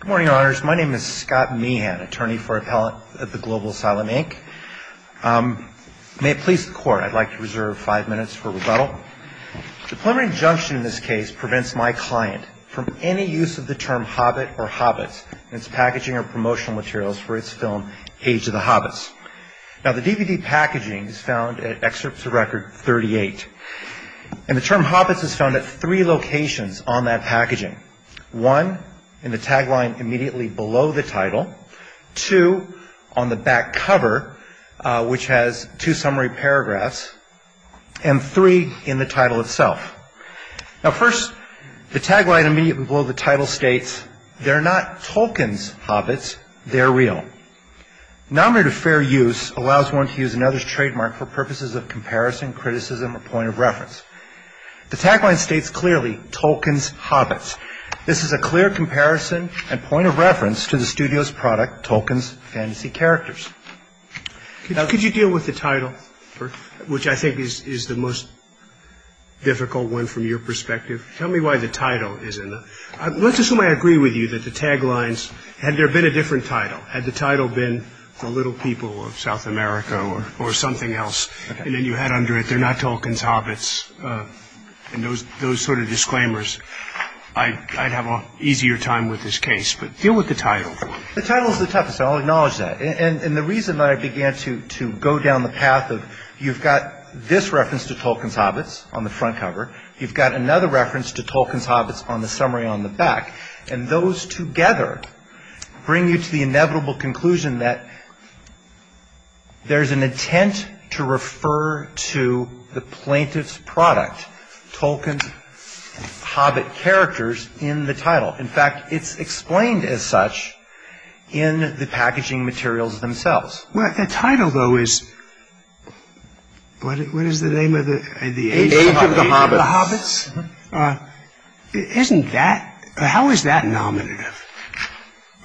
Good morning, Your Honors. My name is Scott Meehan, attorney for appellate at The Global Asylum, Inc. May it please the Court, I'd like to reserve five minutes for rebuttal. The preliminary injunction in this case prevents my client from any use of the term Hobbit or Hobbits in its packaging or promotional materials for its film, Age of the Hobbits. Now the DVD packaging is found at Excerpts of Record 38. And the term Hobbits is found at three locations on that packaging. One, in the tagline immediately below the title. Two, on the back cover, which has two summary paragraphs. And three, in the title itself. Now first, the tagline immediately below the title states, They're not Tolkien's Hobbits, they're real. Nominative fair use allows one to use another's trademark for purposes of advertising. And it states clearly, Tolkien's Hobbits. This is a clear comparison and point of reference to the studio's product, Tolkien's Fantasy Characters. Could you deal with the title, which I think is the most difficult one from your perspective? Tell me why the title isn't. Let's assume I agree with you that the taglines, had there been a different title, had the title been The Little People of South America or something else, and then you had under it, They're not Tolkien's Hobbits, and those sort of disclaimers, I'd have an easier time with this case. But deal with the title. The title's the toughest. I'll acknowledge that. And the reason that I began to go down the path of, you've got this reference to Tolkien's Hobbits on the front cover. You've got another reference to Tolkien's Hobbits on the summary on the back. And those together bring you to the inevitable conclusion that there's an intent to refer to the plaintiff's product, Tolkien's Hobbit characters, in the title. In fact, it's explained as such in the packaging materials themselves. Well, the title, though, is, what is the name of it? The Age of the Hobbits. The Hobbits? Isn't that, how is that nominative?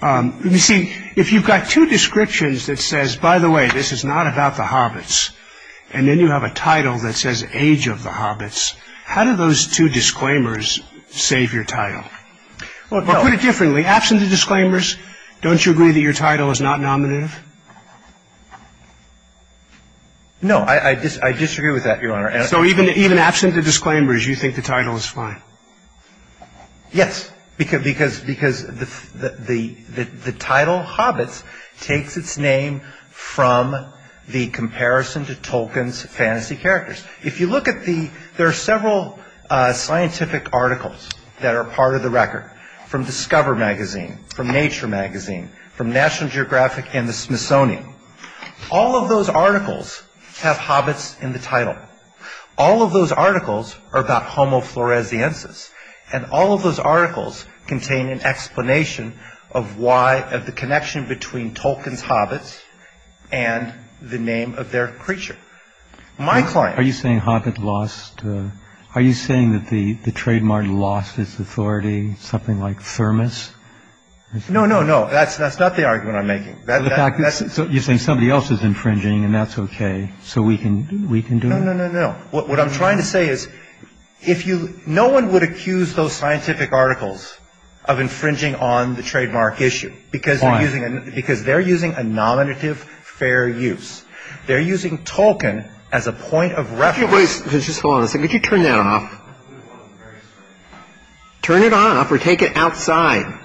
You see, if you've got two descriptions that says, by the way, this is not about the Hobbits, and then you have a title that says Age of the Hobbits, how do those two disclaimers save your title? Or put it differently, absent the disclaimers, don't you agree that your title is not nominative? So even absent the disclaimers, you think the title is fine? Yes, because the title Hobbits takes its name from the comparison to Tolkien's fantasy characters. If you look at the, there are several scientific articles that are part of the record, from Discover magazine, from Nature magazine, from National Geographic and the Smithsonian. All of those articles have Hobbits in the title. All of those articles are about homo floresiensis. And all of those articles contain an explanation of why, of the connection between Tolkien's Hobbits and the name of their creature. My client- Are you saying Hobbit lost, are you saying that the trademark lost its authority, something like thermos? No, no, no, that's not the argument I'm making. So you're saying somebody else is infringing and that's okay, so we can do it? No, no, no, no. What I'm trying to say is, no one would accuse those scientific articles of infringing on the trademark issue because they're using a nominative fair use. They're using Tolkien as a point of reference- Could you turn that off? Turn it on or take it outside.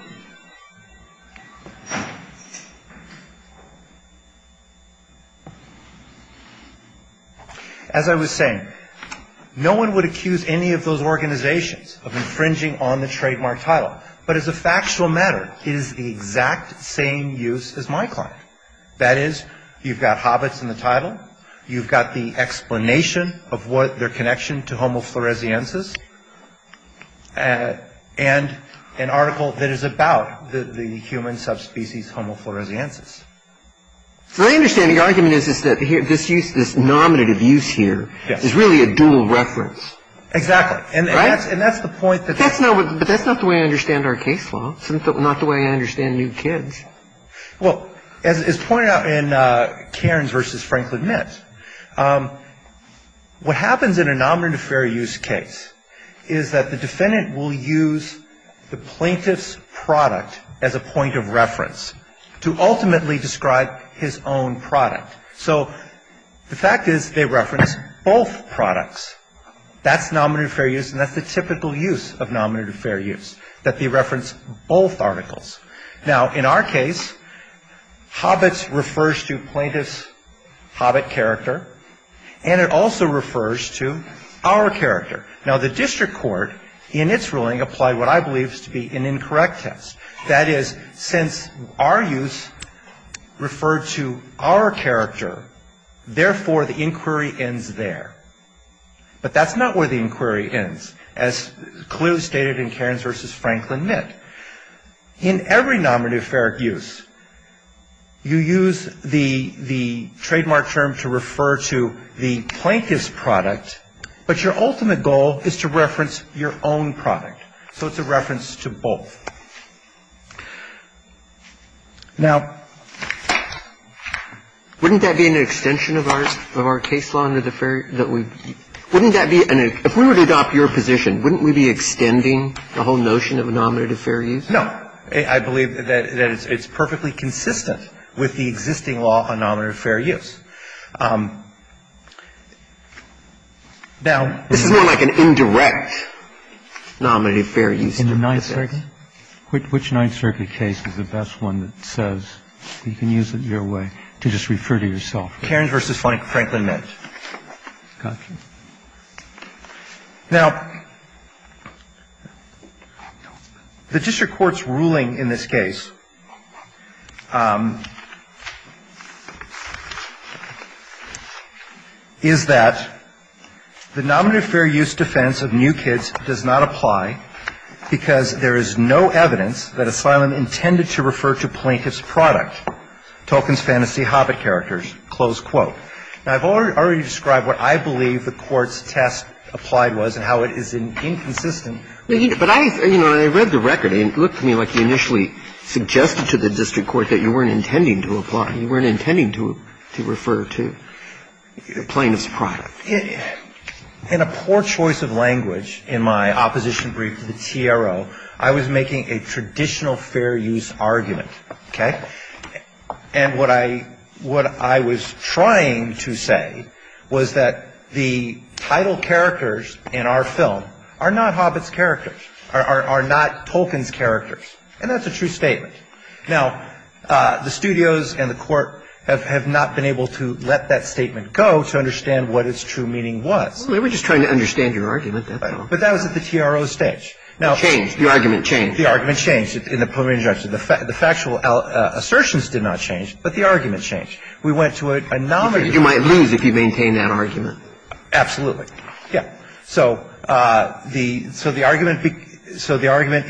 As I was saying, no one would accuse any of those organizations of infringing on the trademark title. But as a factual matter, it is the exact same use as my client. That is, you've got Hobbits in the title, you've got the explanation of what their connection to homo floresiensis, and an article that is about the human subspecies homo floresiensis. My understanding, your argument is that this use, this nominative use here is really a dual reference. Exactly. Right? And that's the point- But that's not the way I understand our case law. It's not the way I understand new kids. Well, as pointed out in Cairns v. Franklin Mint, what happens in a nominative fair use case is that the defendant will use the plaintiff's product as a point of reference to ultimately describe his own product. So the fact is they reference both products. That's nominative fair use and that's the typical use of nominative fair use, that they reference both articles. Now, in our case, Hobbits refers to plaintiff's Hobbit character, and it also refers to our character. Now, the district court, in its ruling, applied what I believe is to be an incorrect test. That is, since our use referred to our character, therefore the inquiry ends there. But that's not where the inquiry ends, as clearly stated in Cairns v. Franklin Mint. In every nominative fair use, you use the trademark term to refer to the plaintiff's product, but your ultimate goal is to reference your own product. So it's a reference to both. Now, wouldn't that be an extension of our case law? If we were to adopt your position, wouldn't we be extending the whole notion of a nominative fair use? No. I believe that it's perfectly consistent with the existing law on nominative fair use. Now, this is more like an indirect nominative fair use. In the Ninth Circuit? Which Ninth Circuit case is the best one that says you can use it your way to just refer to yourself? Cairns v. Franklin Mint. Now, the district court's ruling in this case is that the nominative fair use defense of new kids does not apply because there is no evidence that asylum intended to refer to plaintiff's product, Tolkien's fantasy Hobbit characters, close quote. Now, I've already described what I believe the court's test applied was and how it is inconsistent. But I, you know, when I read the record, it looked to me like you initially suggested to the district court that you weren't intending to apply, you weren't intending to refer to the plaintiff's product. In a poor choice of language in my opposition brief to the TRO, I was making a traditional fair use argument, okay? And what I was trying to say was that the title characters in our film are not Hobbit's characters, are not Tolkien's characters. And that's a true statement. Now, the studios and the court have not been able to let that statement go to understand what its true meaning was. Well, we were just trying to understand your argument. But that was at the TRO stage. It changed. The argument changed. The argument changed in the preliminary injunction. The factual assertions did not change, but the argument changed. We went to a nominative. You might lose if you maintain that argument. Absolutely. Yeah. So the argument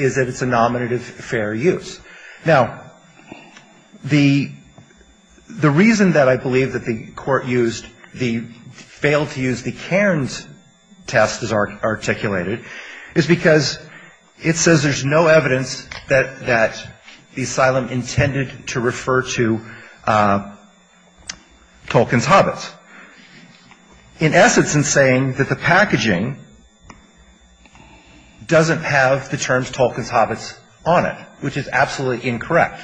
is that it's a nominative fair use. Now, the reason that I believe that the court used the failed to use the Cairns test as articulated is because it says there's no evidence that the asylum intended to refer to Tolkien's Hobbits. In essence, in saying that the packaging doesn't have the terms Tolkien's Hobbits on it, which is absolutely incorrect.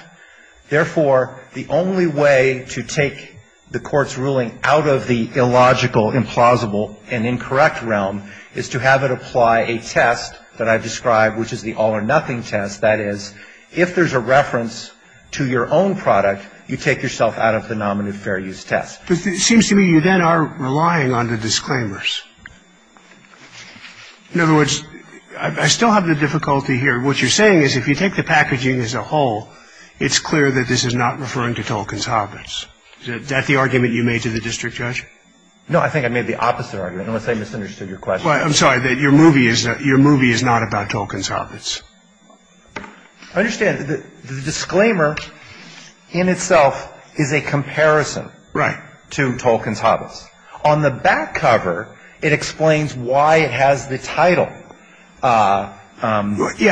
Therefore, the only way to take the court's ruling out of the illogical, implausible, and incorrect realm is to have it apply a test that I've described, which is the all or nothing test. That is, if there's a reference to your own product, you take yourself out of the nominative fair use test. But it seems to me you then are relying on the disclaimers. In other words, I still have the difficulty here. What you're saying is if you take the packaging as a whole, it's clear that this is not referring to Tolkien's Hobbits. Is that the argument you made to the district judge? No, I think I made the opposite argument unless I misunderstood your question. Well, I'm sorry that your movie is not about Tolkien's Hobbits. I understand that the disclaimer in itself is a comparison to Tolkien's Hobbits. On the back cover, it explains why it has the title. Yeah,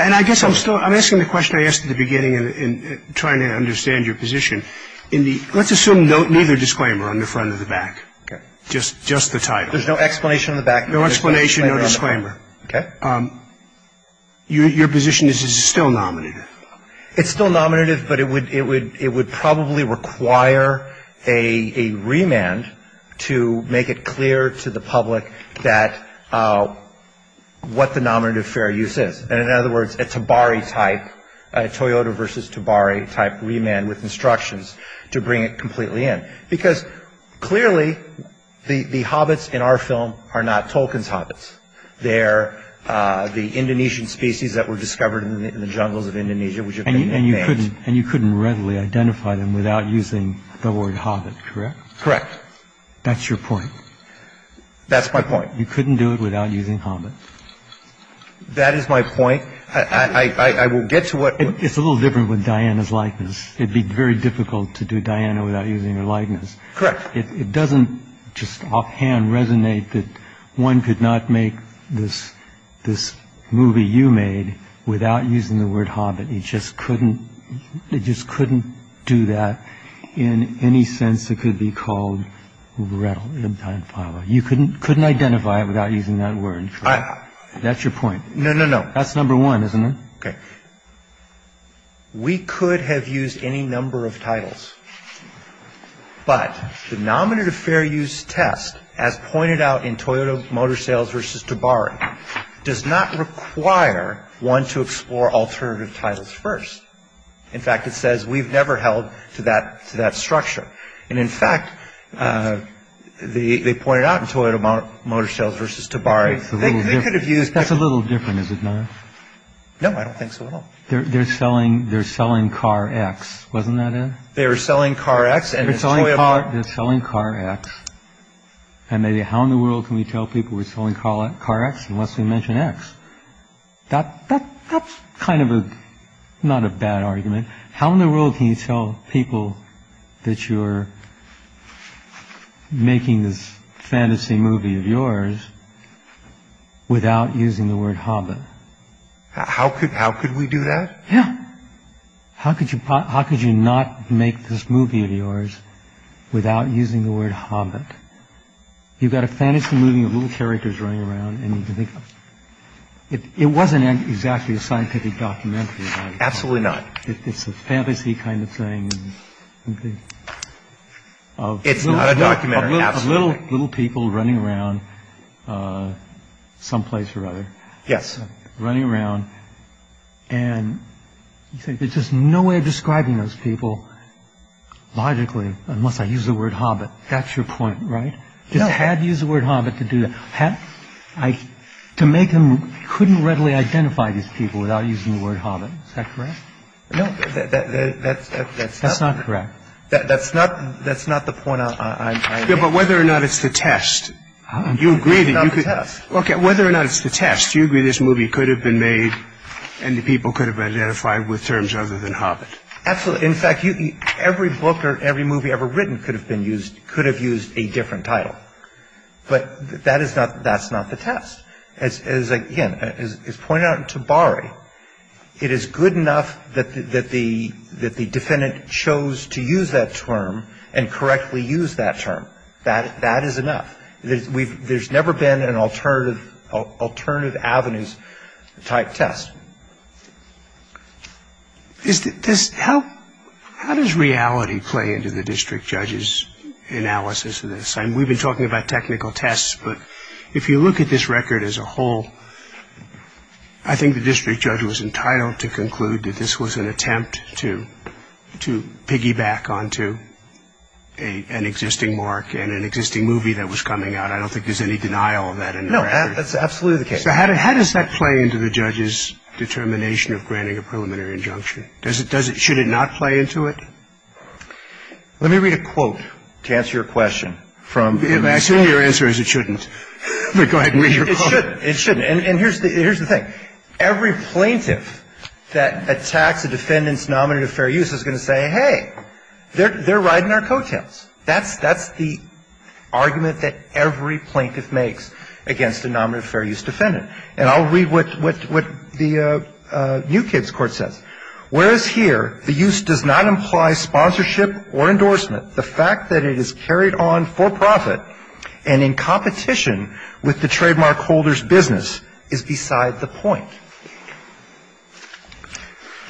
and I guess I'm still I'm asking the question I asked at the beginning and trying to understand your position. Let's assume neither disclaimer on the front or the back, just the title. There's no explanation on the back? No explanation, no disclaimer. Your position is it's still nominative. It's still nominative, but it would probably require a remand to make it clear to the public what the nominative fair use is. And in other words, a Tobari type Toyota versus Tobari type remand with instructions to bring it completely in. Because clearly the Hobbits in our film are not Tolkien's Hobbits. They're the Indonesian species that were discovered in the jungles of Indonesia. And you couldn't and you couldn't readily identify them without using the word Hobbit, correct? Correct. That's your point. That's my point. You couldn't do it without using Hobbit. That is my point. I will get to what it's a little different with Diana's likeness. It'd be very difficult to do Diana without using her likeness. Correct. It doesn't just offhand resonate that one could not make this this movie you made without using the word Hobbit. He just couldn't. They just couldn't do that in any sense. It could be called well, you couldn't couldn't identify it without using that word. That's your point. No, no, no. That's number one, isn't it? Okay. We could have used any number of titles, but the nominative fair use test, as pointed out in Toyota Motor Sales versus Tobari, does not require one to explore alternative titles first. In fact, it says we've never held to that to that structure. And in fact, they pointed out in Toyota Motor Sales versus Tobari, they could have used that's a little different, is it not? No, I don't think so. They're selling. They're selling car X. Wasn't that it? They were selling car X. And it's only a part that's selling car X. And maybe how in the world can we tell people we're selling car X unless we mention X? That that's kind of a not a bad argument. How in the world can you tell people that you're making this fantasy movie of yours without using the word Hobbit? How could how could we do that? Yeah. How could you? How could you not make this movie of yours without using the word Hobbit? You've got a fantasy movie of little characters running around and you think it wasn't exactly a scientific documentary. Absolutely not. It's a fantasy kind of thing. Oh, it's a documentary of little little people running around someplace or other. Yes. Running around. And you think there's just no way of describing those people. Logically, unless I use the word Hobbit. That's your point, right? I had to use the word Hobbit to do that. Had I to make him couldn't readily identify these people without using the word Hobbit. Is that correct? No, that's that's not correct. That's not that's not the point. But whether or not it's the test, you agree that you could look at whether or not it's the test. You agree this movie could have been made and the people could have identified with terms other than Hobbit. Absolutely. In fact, every book or every movie ever written could have been used, could have used a different title. But that is not that's not the test. As is again, as is pointed out to Barry, it is good enough that that the that the defendant chose to use that term and correctly use that term. That that is enough. We've there's never been an alternative alternative avenues type test. Is this how how does reality play into the district judge's analysis of this? And we've been talking about technical tests, but if you look at this record as a whole, I think the district judge was entitled to conclude that this was an attempt to to piggyback onto a an existing mark and an existing movie that was coming out. I don't think there's any denial of that. No, that's absolutely the case. So how does that play into the judge's determination of granting a preliminary injunction? Does it does it should it not play into it? Let me read a quote to answer your question from the accident. Your answer is it shouldn't go ahead and read it. It shouldn't. And here's the here's the thing. Every plaintiff that attacks a defendant's nominative fair use is going to say, hey, they're they're riding our coattails. That's that's the argument that every plaintiff makes against a nominative fair use defendant. And I'll read what what what the New Kids Court says. Whereas here the use does not imply sponsorship or endorsement, the fact that it is carried on for profit and in competition with the trademark holder's business is beside the point.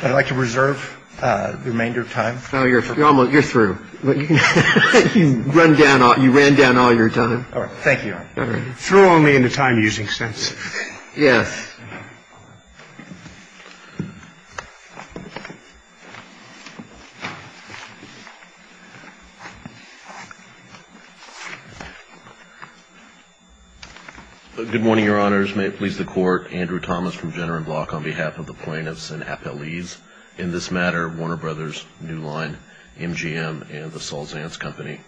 I'd like to reserve the remainder of time. Now, you're almost you're through, but you run down, you ran down all your time. All right. Thank you. Through only in a time using sense. Yes. Good morning, Your Honors. May it please the Court. Andrew Thomas from Jenner and Block on behalf of the plaintiffs and appellees. In this matter, Warner Brothers, New Line, MGM and the Salsance Company.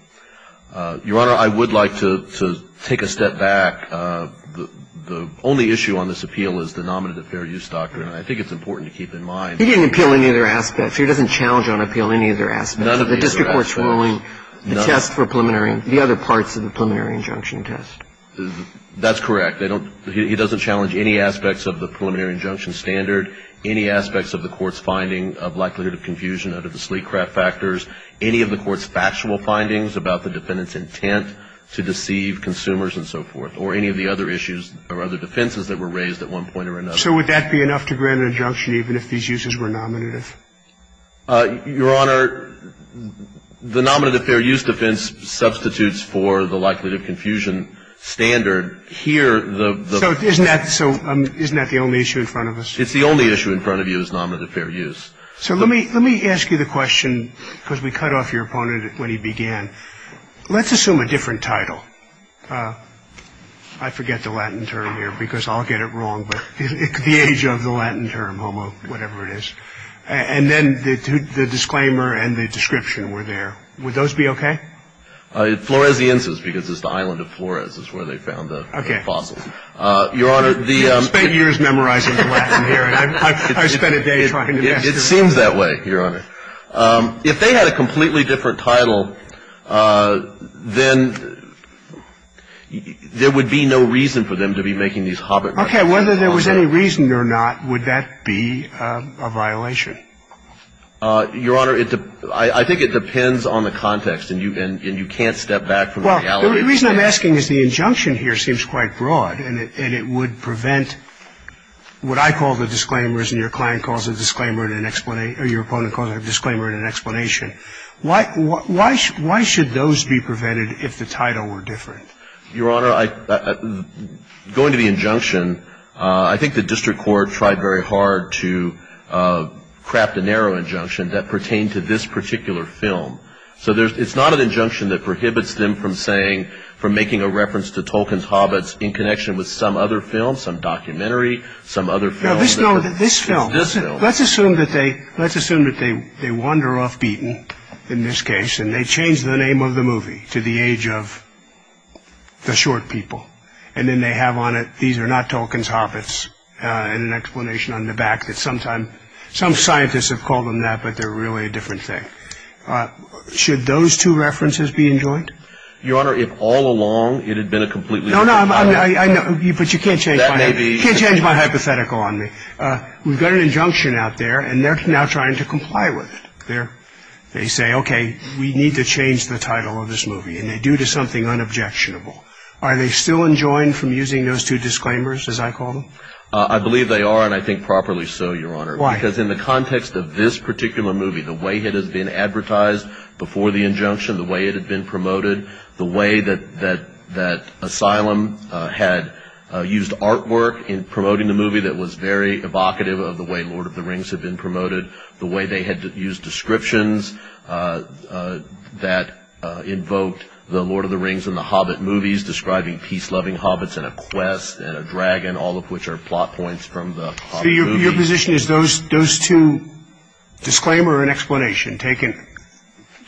Your Honor, I would like to take a step back. The only issue on this appeal is the nominative fair use doctrine. I think it's important to keep in mind. He didn't appeal any of their aspects. He doesn't challenge on appeal any of their aspects. None of the district court's ruling, the test for preliminary, the other parts of the preliminary injunction test. That's correct. They don't he doesn't challenge any aspects of the preliminary injunction standard. Any aspects of the court's finding of likelihood of confusion under the sleek craft factors. Any of the court's factual findings about the defendant's intent to deceive consumers and so forth. Or any of the other issues or other defenses that were raised at one point or another. So would that be enough to grant an injunction even if these uses were nominative? Your Honor, the nominative fair use defense substitutes for the likelihood of confusion standard. Here, the. So isn't that the only issue in front of us? It's the only issue in front of you is nominative fair use. So let me let me ask you the question because we cut off your opponent when he began. Let's assume a different title. I forget the Latin term here because I'll get it wrong, but it's the age of the Latin term, homo, whatever it is. And then the disclaimer and the description were there. Would those be OK? Floresiensis, because it's the island of Flores is where they found the fossil. I spent years memorizing the Latin here, and I spent a day trying to master it. It seems that way, Your Honor. If they had a completely different title, then there would be no reason for them to be making these Hobbit remarks. OK. Whether there was any reason or not, would that be a violation? Your Honor, I think it depends on the context, and you can't step back from the reality. The reason I'm asking is the injunction here seems quite broad, and it would prevent what I call the disclaimers and your client calls a disclaimer and an explanation, or your opponent calls a disclaimer and an explanation. Why should those be prevented if the title were different? Your Honor, going to the injunction, I think the district court tried very hard to craft a narrow injunction that pertained to this particular film. So it's not an injunction that prohibits them from saying, from making a reference to Tolkien's Hobbits in connection with some other film, some documentary, some other film. No, this film. Let's assume that they wander off beaten in this case, and they change the name of the movie to the age of the short people. And then they have on it, these are not Tolkien's Hobbits, and an explanation on the back that some scientists have called them that, but they're really a different thing. Should those two references be enjoined? Your Honor, if all along it had been a completely different title. No, no, I know, but you can't change my hypothetical on me. We've got an injunction out there, and they're now trying to comply with it. They say, okay, we need to change the title of this movie, and they do to something unobjectionable. Are they still enjoined from using those two disclaimers, as I call them? Because in the context of this particular movie, the way it has been advertised before the injunction, the way it had been promoted, the way that Asylum had used artwork in promoting the movie that was very evocative of the way Lord of the Rings had been promoted, the way they had used descriptions that invoked the Lord of the Rings and the Hobbit movies describing peace-loving Hobbits and a quest and a dragon, all of which are plot points from the Hobbit movie. Your position is those two disclaimer and explanation taken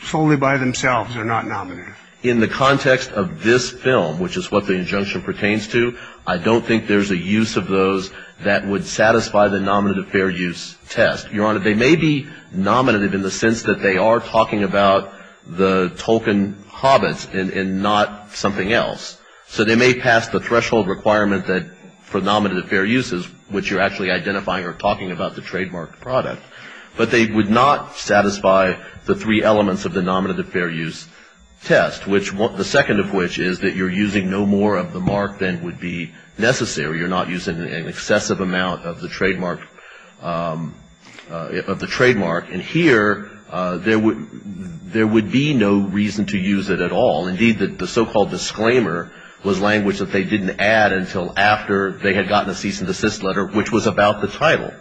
solely by themselves are not nominative? In the context of this film, which is what the injunction pertains to, I don't think there's a use of those that would satisfy the nominative fair use test. Your Honor, they may be nominative in the sense that they are talking about the Tolkien Hobbits and not something else. So they may pass the threshold requirement for nominative fair uses, which you're actually identifying or talking about the trademarked product, but they would not satisfy the three elements of the nominative fair use test, the second of which is that you're using no more of the mark than would be necessary. You're not using an excessive amount of the trademark. And here, there would be no reason to use it at all. Indeed, the so-called disclaimer was language that they didn't add until after they had gotten a cease and desist letter, which was about the title.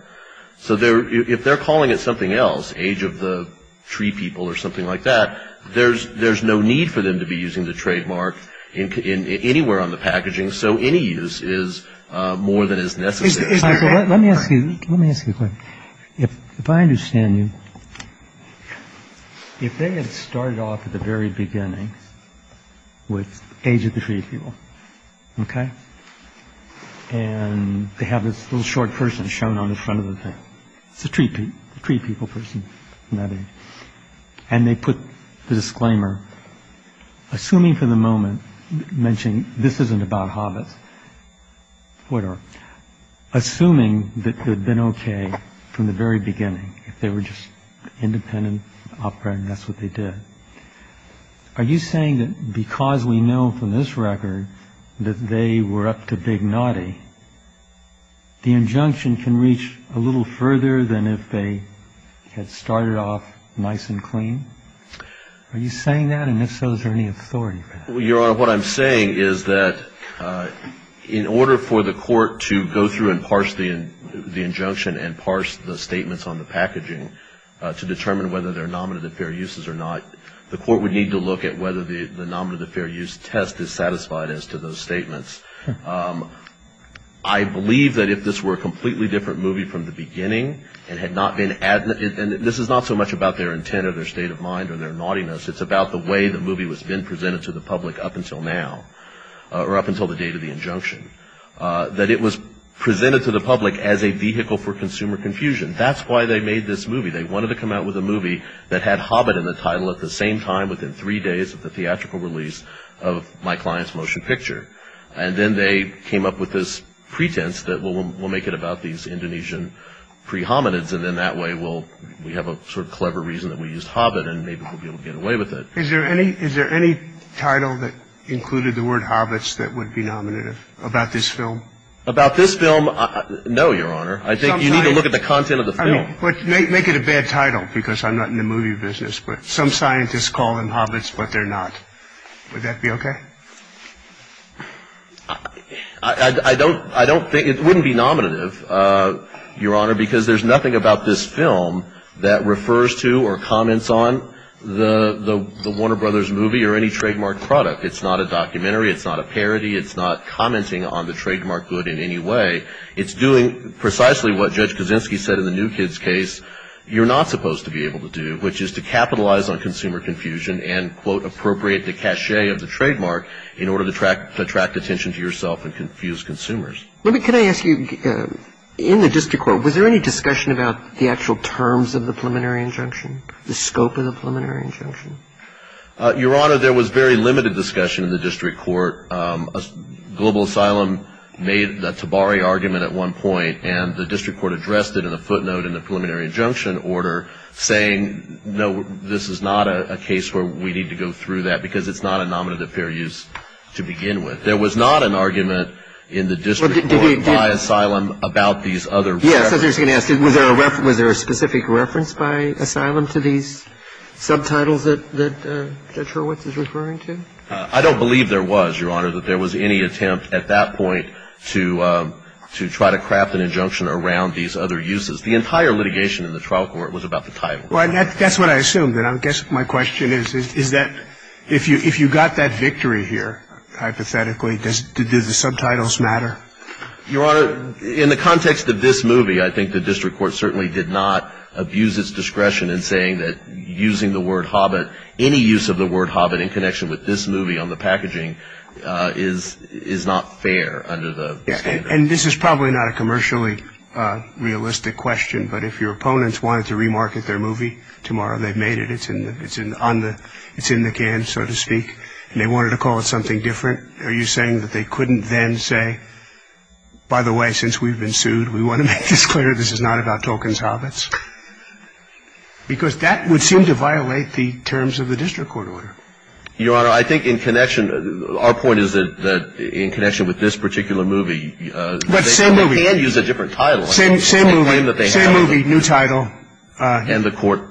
So if they're calling it something else, age of the tree people or something like that, there's there's no need for them to be using the trademark in anywhere on the packaging. So any use is more than is necessary. Let me ask you, let me ask you if I understand you. If they had started off at the very beginning with age of the tree people. OK. And they have this little short person shown on the front of the street, three people, person. And they put the disclaimer, assuming for the moment, mentioning this isn't about Hobbits. What are assuming that they've been OK from the very beginning, if they were just independent operand, that's what they did. Are you saying that because we know from this record that they were up to big naughty, the injunction can reach a little further than if they had started off nice and clean? Are you saying that? And if so, is there any authority? Well, Your Honor, what I'm saying is that in order for the court to go through and parse the injunction and parse the statements on the packaging to determine whether they're nominative fair uses or not, the court would need to look at whether the nominative fair use test is satisfied as to those statements. I believe that if this were a completely different movie from the beginning and had not been added, and this is not so much about their intent or their state of mind or their naughtiness, it's about the way the movie was being presented to the public up until now, or up until the date of the injunction, that it was presented to the public as a vehicle for consumer confusion. That's why they made this movie. They wanted to come out with a movie that had Hobbit in the title at the same time, within three days of the theatrical release of my client's motion picture. And then they came up with this pretense that we'll make it about these Indonesian pre-hominids, and then that way we'll have a sort of clever reason that we used Hobbit and maybe we'll be able to get away with it. Is there any title that included the word Hobbits that would be nominative about this film? About this film, no, Your Honor. I think you need to look at the content of the film. Make it a bad title, because I'm not in the movie business, but some scientists call them Hobbits, but they're not. Would that be okay? I don't think, it wouldn't be nominative, Your Honor, because there's nothing about this film that refers to or comments on the Warner Brothers movie or any trademark product. It's not a documentary, it's not a parody, it's not commenting on the trademark good in any way. It's doing precisely what Judge Kaczynski said in the New Kids case, you're not supposed to be able to do, appropriate the cachet of the trademark in order to attract attention to yourself and confuse consumers. Let me, can I ask you, in the district court, was there any discussion about the actual terms of the preliminary injunction, the scope of the preliminary injunction? Your Honor, there was very limited discussion in the district court. Global Asylum made the Tabari argument at one point, and the district court addressed it in a footnote in the preliminary injunction order, saying, no, this is not a case where we need to go through that because it's not a nominative fair use to begin with. There was not an argument in the district court by asylum about these other references. Yes, I was just going to ask, was there a specific reference by asylum to these subtitles that Judge Hurwitz is referring to? I don't believe there was, Your Honor, that there was any attempt at that point to try to craft an injunction around these other uses. The entire litigation in the trial court was about the title. Well, that's what I assumed, and I guess my question is, is that if you got that victory here, hypothetically, does the subtitles matter? Your Honor, in the context of this movie, I think the district court certainly did not abuse its discretion in saying that using the word hobbit, any use of the word hobbit in connection with this movie on the packaging is not fair under the standard. And this is probably not a commercially realistic question, but if your opponents wanted to remarket their movie tomorrow, they've made it. It's in the it's in on the it's in the can, so to speak, and they wanted to call it something different. Are you saying that they couldn't then say, by the way, since we've been sued, we want to make this clear. This is not about Tolkien's Hobbits, because that would seem to violate the terms of the district court order. Your Honor, I think in connection, our point is that in connection with this particular movie. But same movie, same movie, new title. And the court,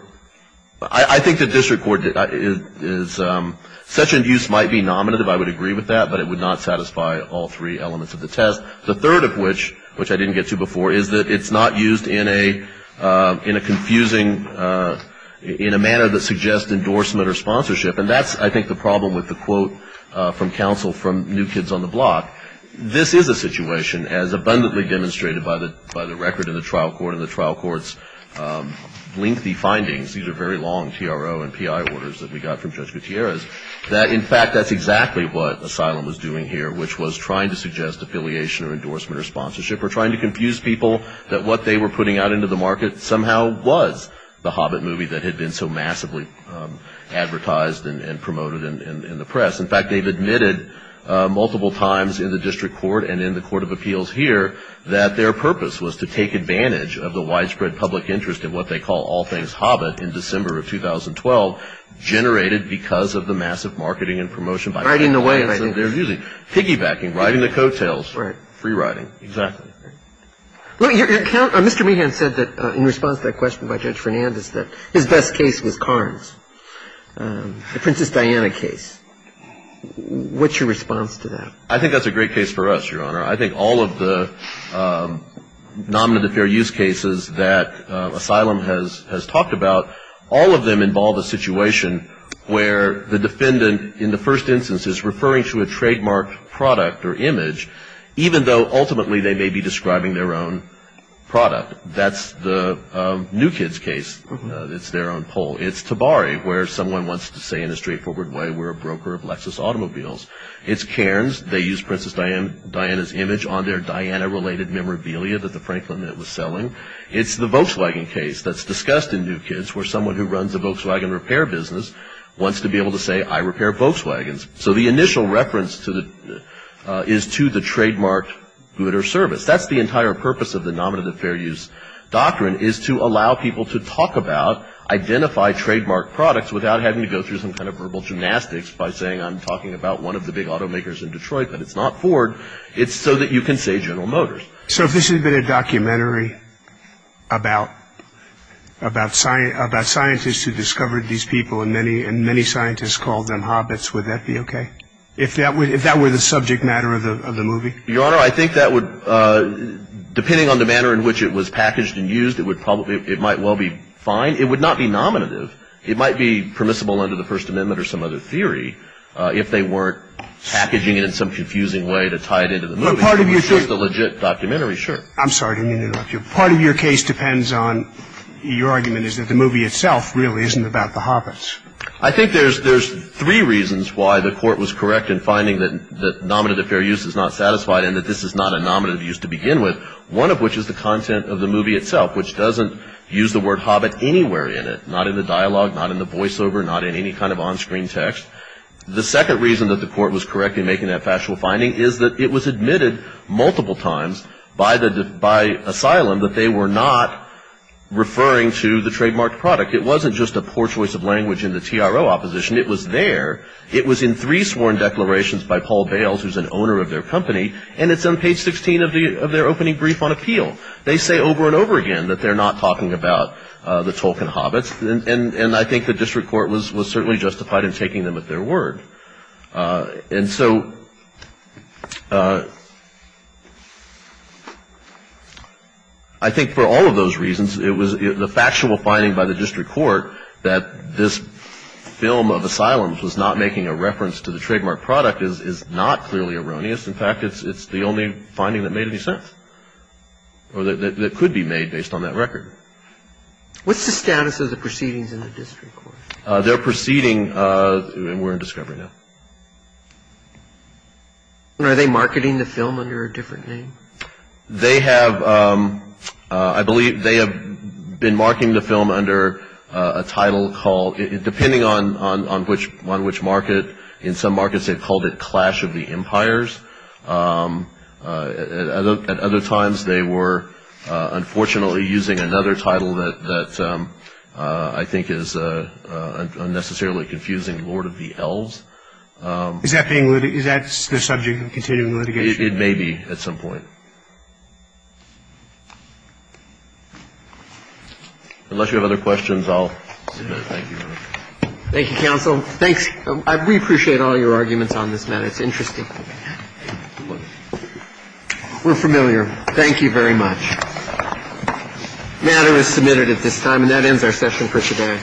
I think the district court is, such abuse might be nominative, I would agree with that, but it would not satisfy all three elements of the test. The third of which, which I didn't get to before, is that it's not used in a confusing, in a manner that suggests endorsement or sponsorship. And that's, I think, the problem with the quote from counsel from New Kids on the Block. This is a situation, as abundantly demonstrated by the by the record in the trial court and the trial court's lengthy findings. These are very long T.R.O. and P.I. orders that we got from Judge Gutierrez, that in fact, that's exactly what Asylum was doing here, which was trying to suggest affiliation or endorsement or sponsorship or trying to confuse people that what they were putting out into the market somehow was the Hobbit movie that had been so massively advertised and promoted in the press. In fact, they've admitted multiple times in the district court and in the court of appeals here that their purpose was to take advantage of the widespread public interest in what they call All Things Hobbit in December of 2012, generated because of the massive marketing and promotion by writing the way they're using piggybacking, riding the coattails, free riding. Exactly. Mr. Meehan said that in response to that question by Judge Fernandez, that his best case was Karnes, the Princess Diana case. What's your response to that? I think that's a great case for us, Your Honor. I think all of the nominative fair use cases that Asylum has talked about, all of them involve a situation where the defendant, in the first instance, is referring to a trademark product or image, even though ultimately they may be describing their own product. That's the New Kids case. It's their own poll. It's Tabari, where someone wants to say in a straightforward way, we're a broker of Lexus automobiles. It's Karnes. They use Princess Diana's image on their Diana-related memorabilia that the Franklin Mint was selling. It's the Volkswagen case that's discussed in New Kids, where someone who runs a Volkswagen repair business wants to be able to say, I repair Volkswagens. So the initial reference is to the trademark good or service. That's the entire purpose of the nominative fair use doctrine, is to allow people to talk about, identify trademark products without having to go through some kind of verbal gymnastics by saying, I'm talking about one of the big automakers in Detroit, but it's not Ford. It's so that you can say General Motors. So if this had been a documentary about scientists who discovered these people and many scientists called them hobbits, would that be okay? If that were the subject matter of the movie? Your Honor, I think that would, depending on the manner in which it was packaged and used, it might well be fine. It would not be nominative. It might be permissible under the First Amendment or some other theory if they weren't packaging it in some confusing way to tie it into the movie. But part of your case depends on your argument is that the movie itself really isn't about the hobbits. I think there's three reasons why the court was correct in finding that the nominative fair use is not satisfied and that this is not a nominative use to begin with. One of which is the content of the movie itself, which doesn't use the word hobbit anywhere in it, not in the dialogue, not in the voiceover, not in any kind of onscreen text. The second reason that the court was correct in making that factual finding is that it was admitted multiple times by asylum that they were not referring to the trademarked product. It wasn't just a poor choice of language in the TRO opposition. It was there. It was in three sworn declarations by Paul Bales, who's an owner of their company, and it's on page 16 of their opening brief on appeal. They say over and over again that they're not talking about the Tolkien hobbits. And I think the district court was certainly justified in taking them at their word. And so I think for all of those reasons, it was the factual finding by the district court that this film of asylums was not making a reference to the trademarked product is not clearly erroneous. In fact, it's the only finding that made any sense or that could be made based on that record. What's the status of the proceedings in the district court? They're proceeding, and we're in discovery now. Are they marketing the film under a different name? They have, I believe they have been marketing the film under a title called, depending on which market, in some markets they've called it Clash of the Empires. At other times, they were unfortunately using another title that I think is unnecessarily confusing, Lord of the Elves. Is that the subject of continuing litigation? It may be at some point. Unless you have other questions, I'll submit. Thank you. Thank you, counsel. Thanks. We appreciate all your arguments on this matter. It's interesting. We're familiar. Thank you very much. The matter is submitted at this time, and that ends our session for today.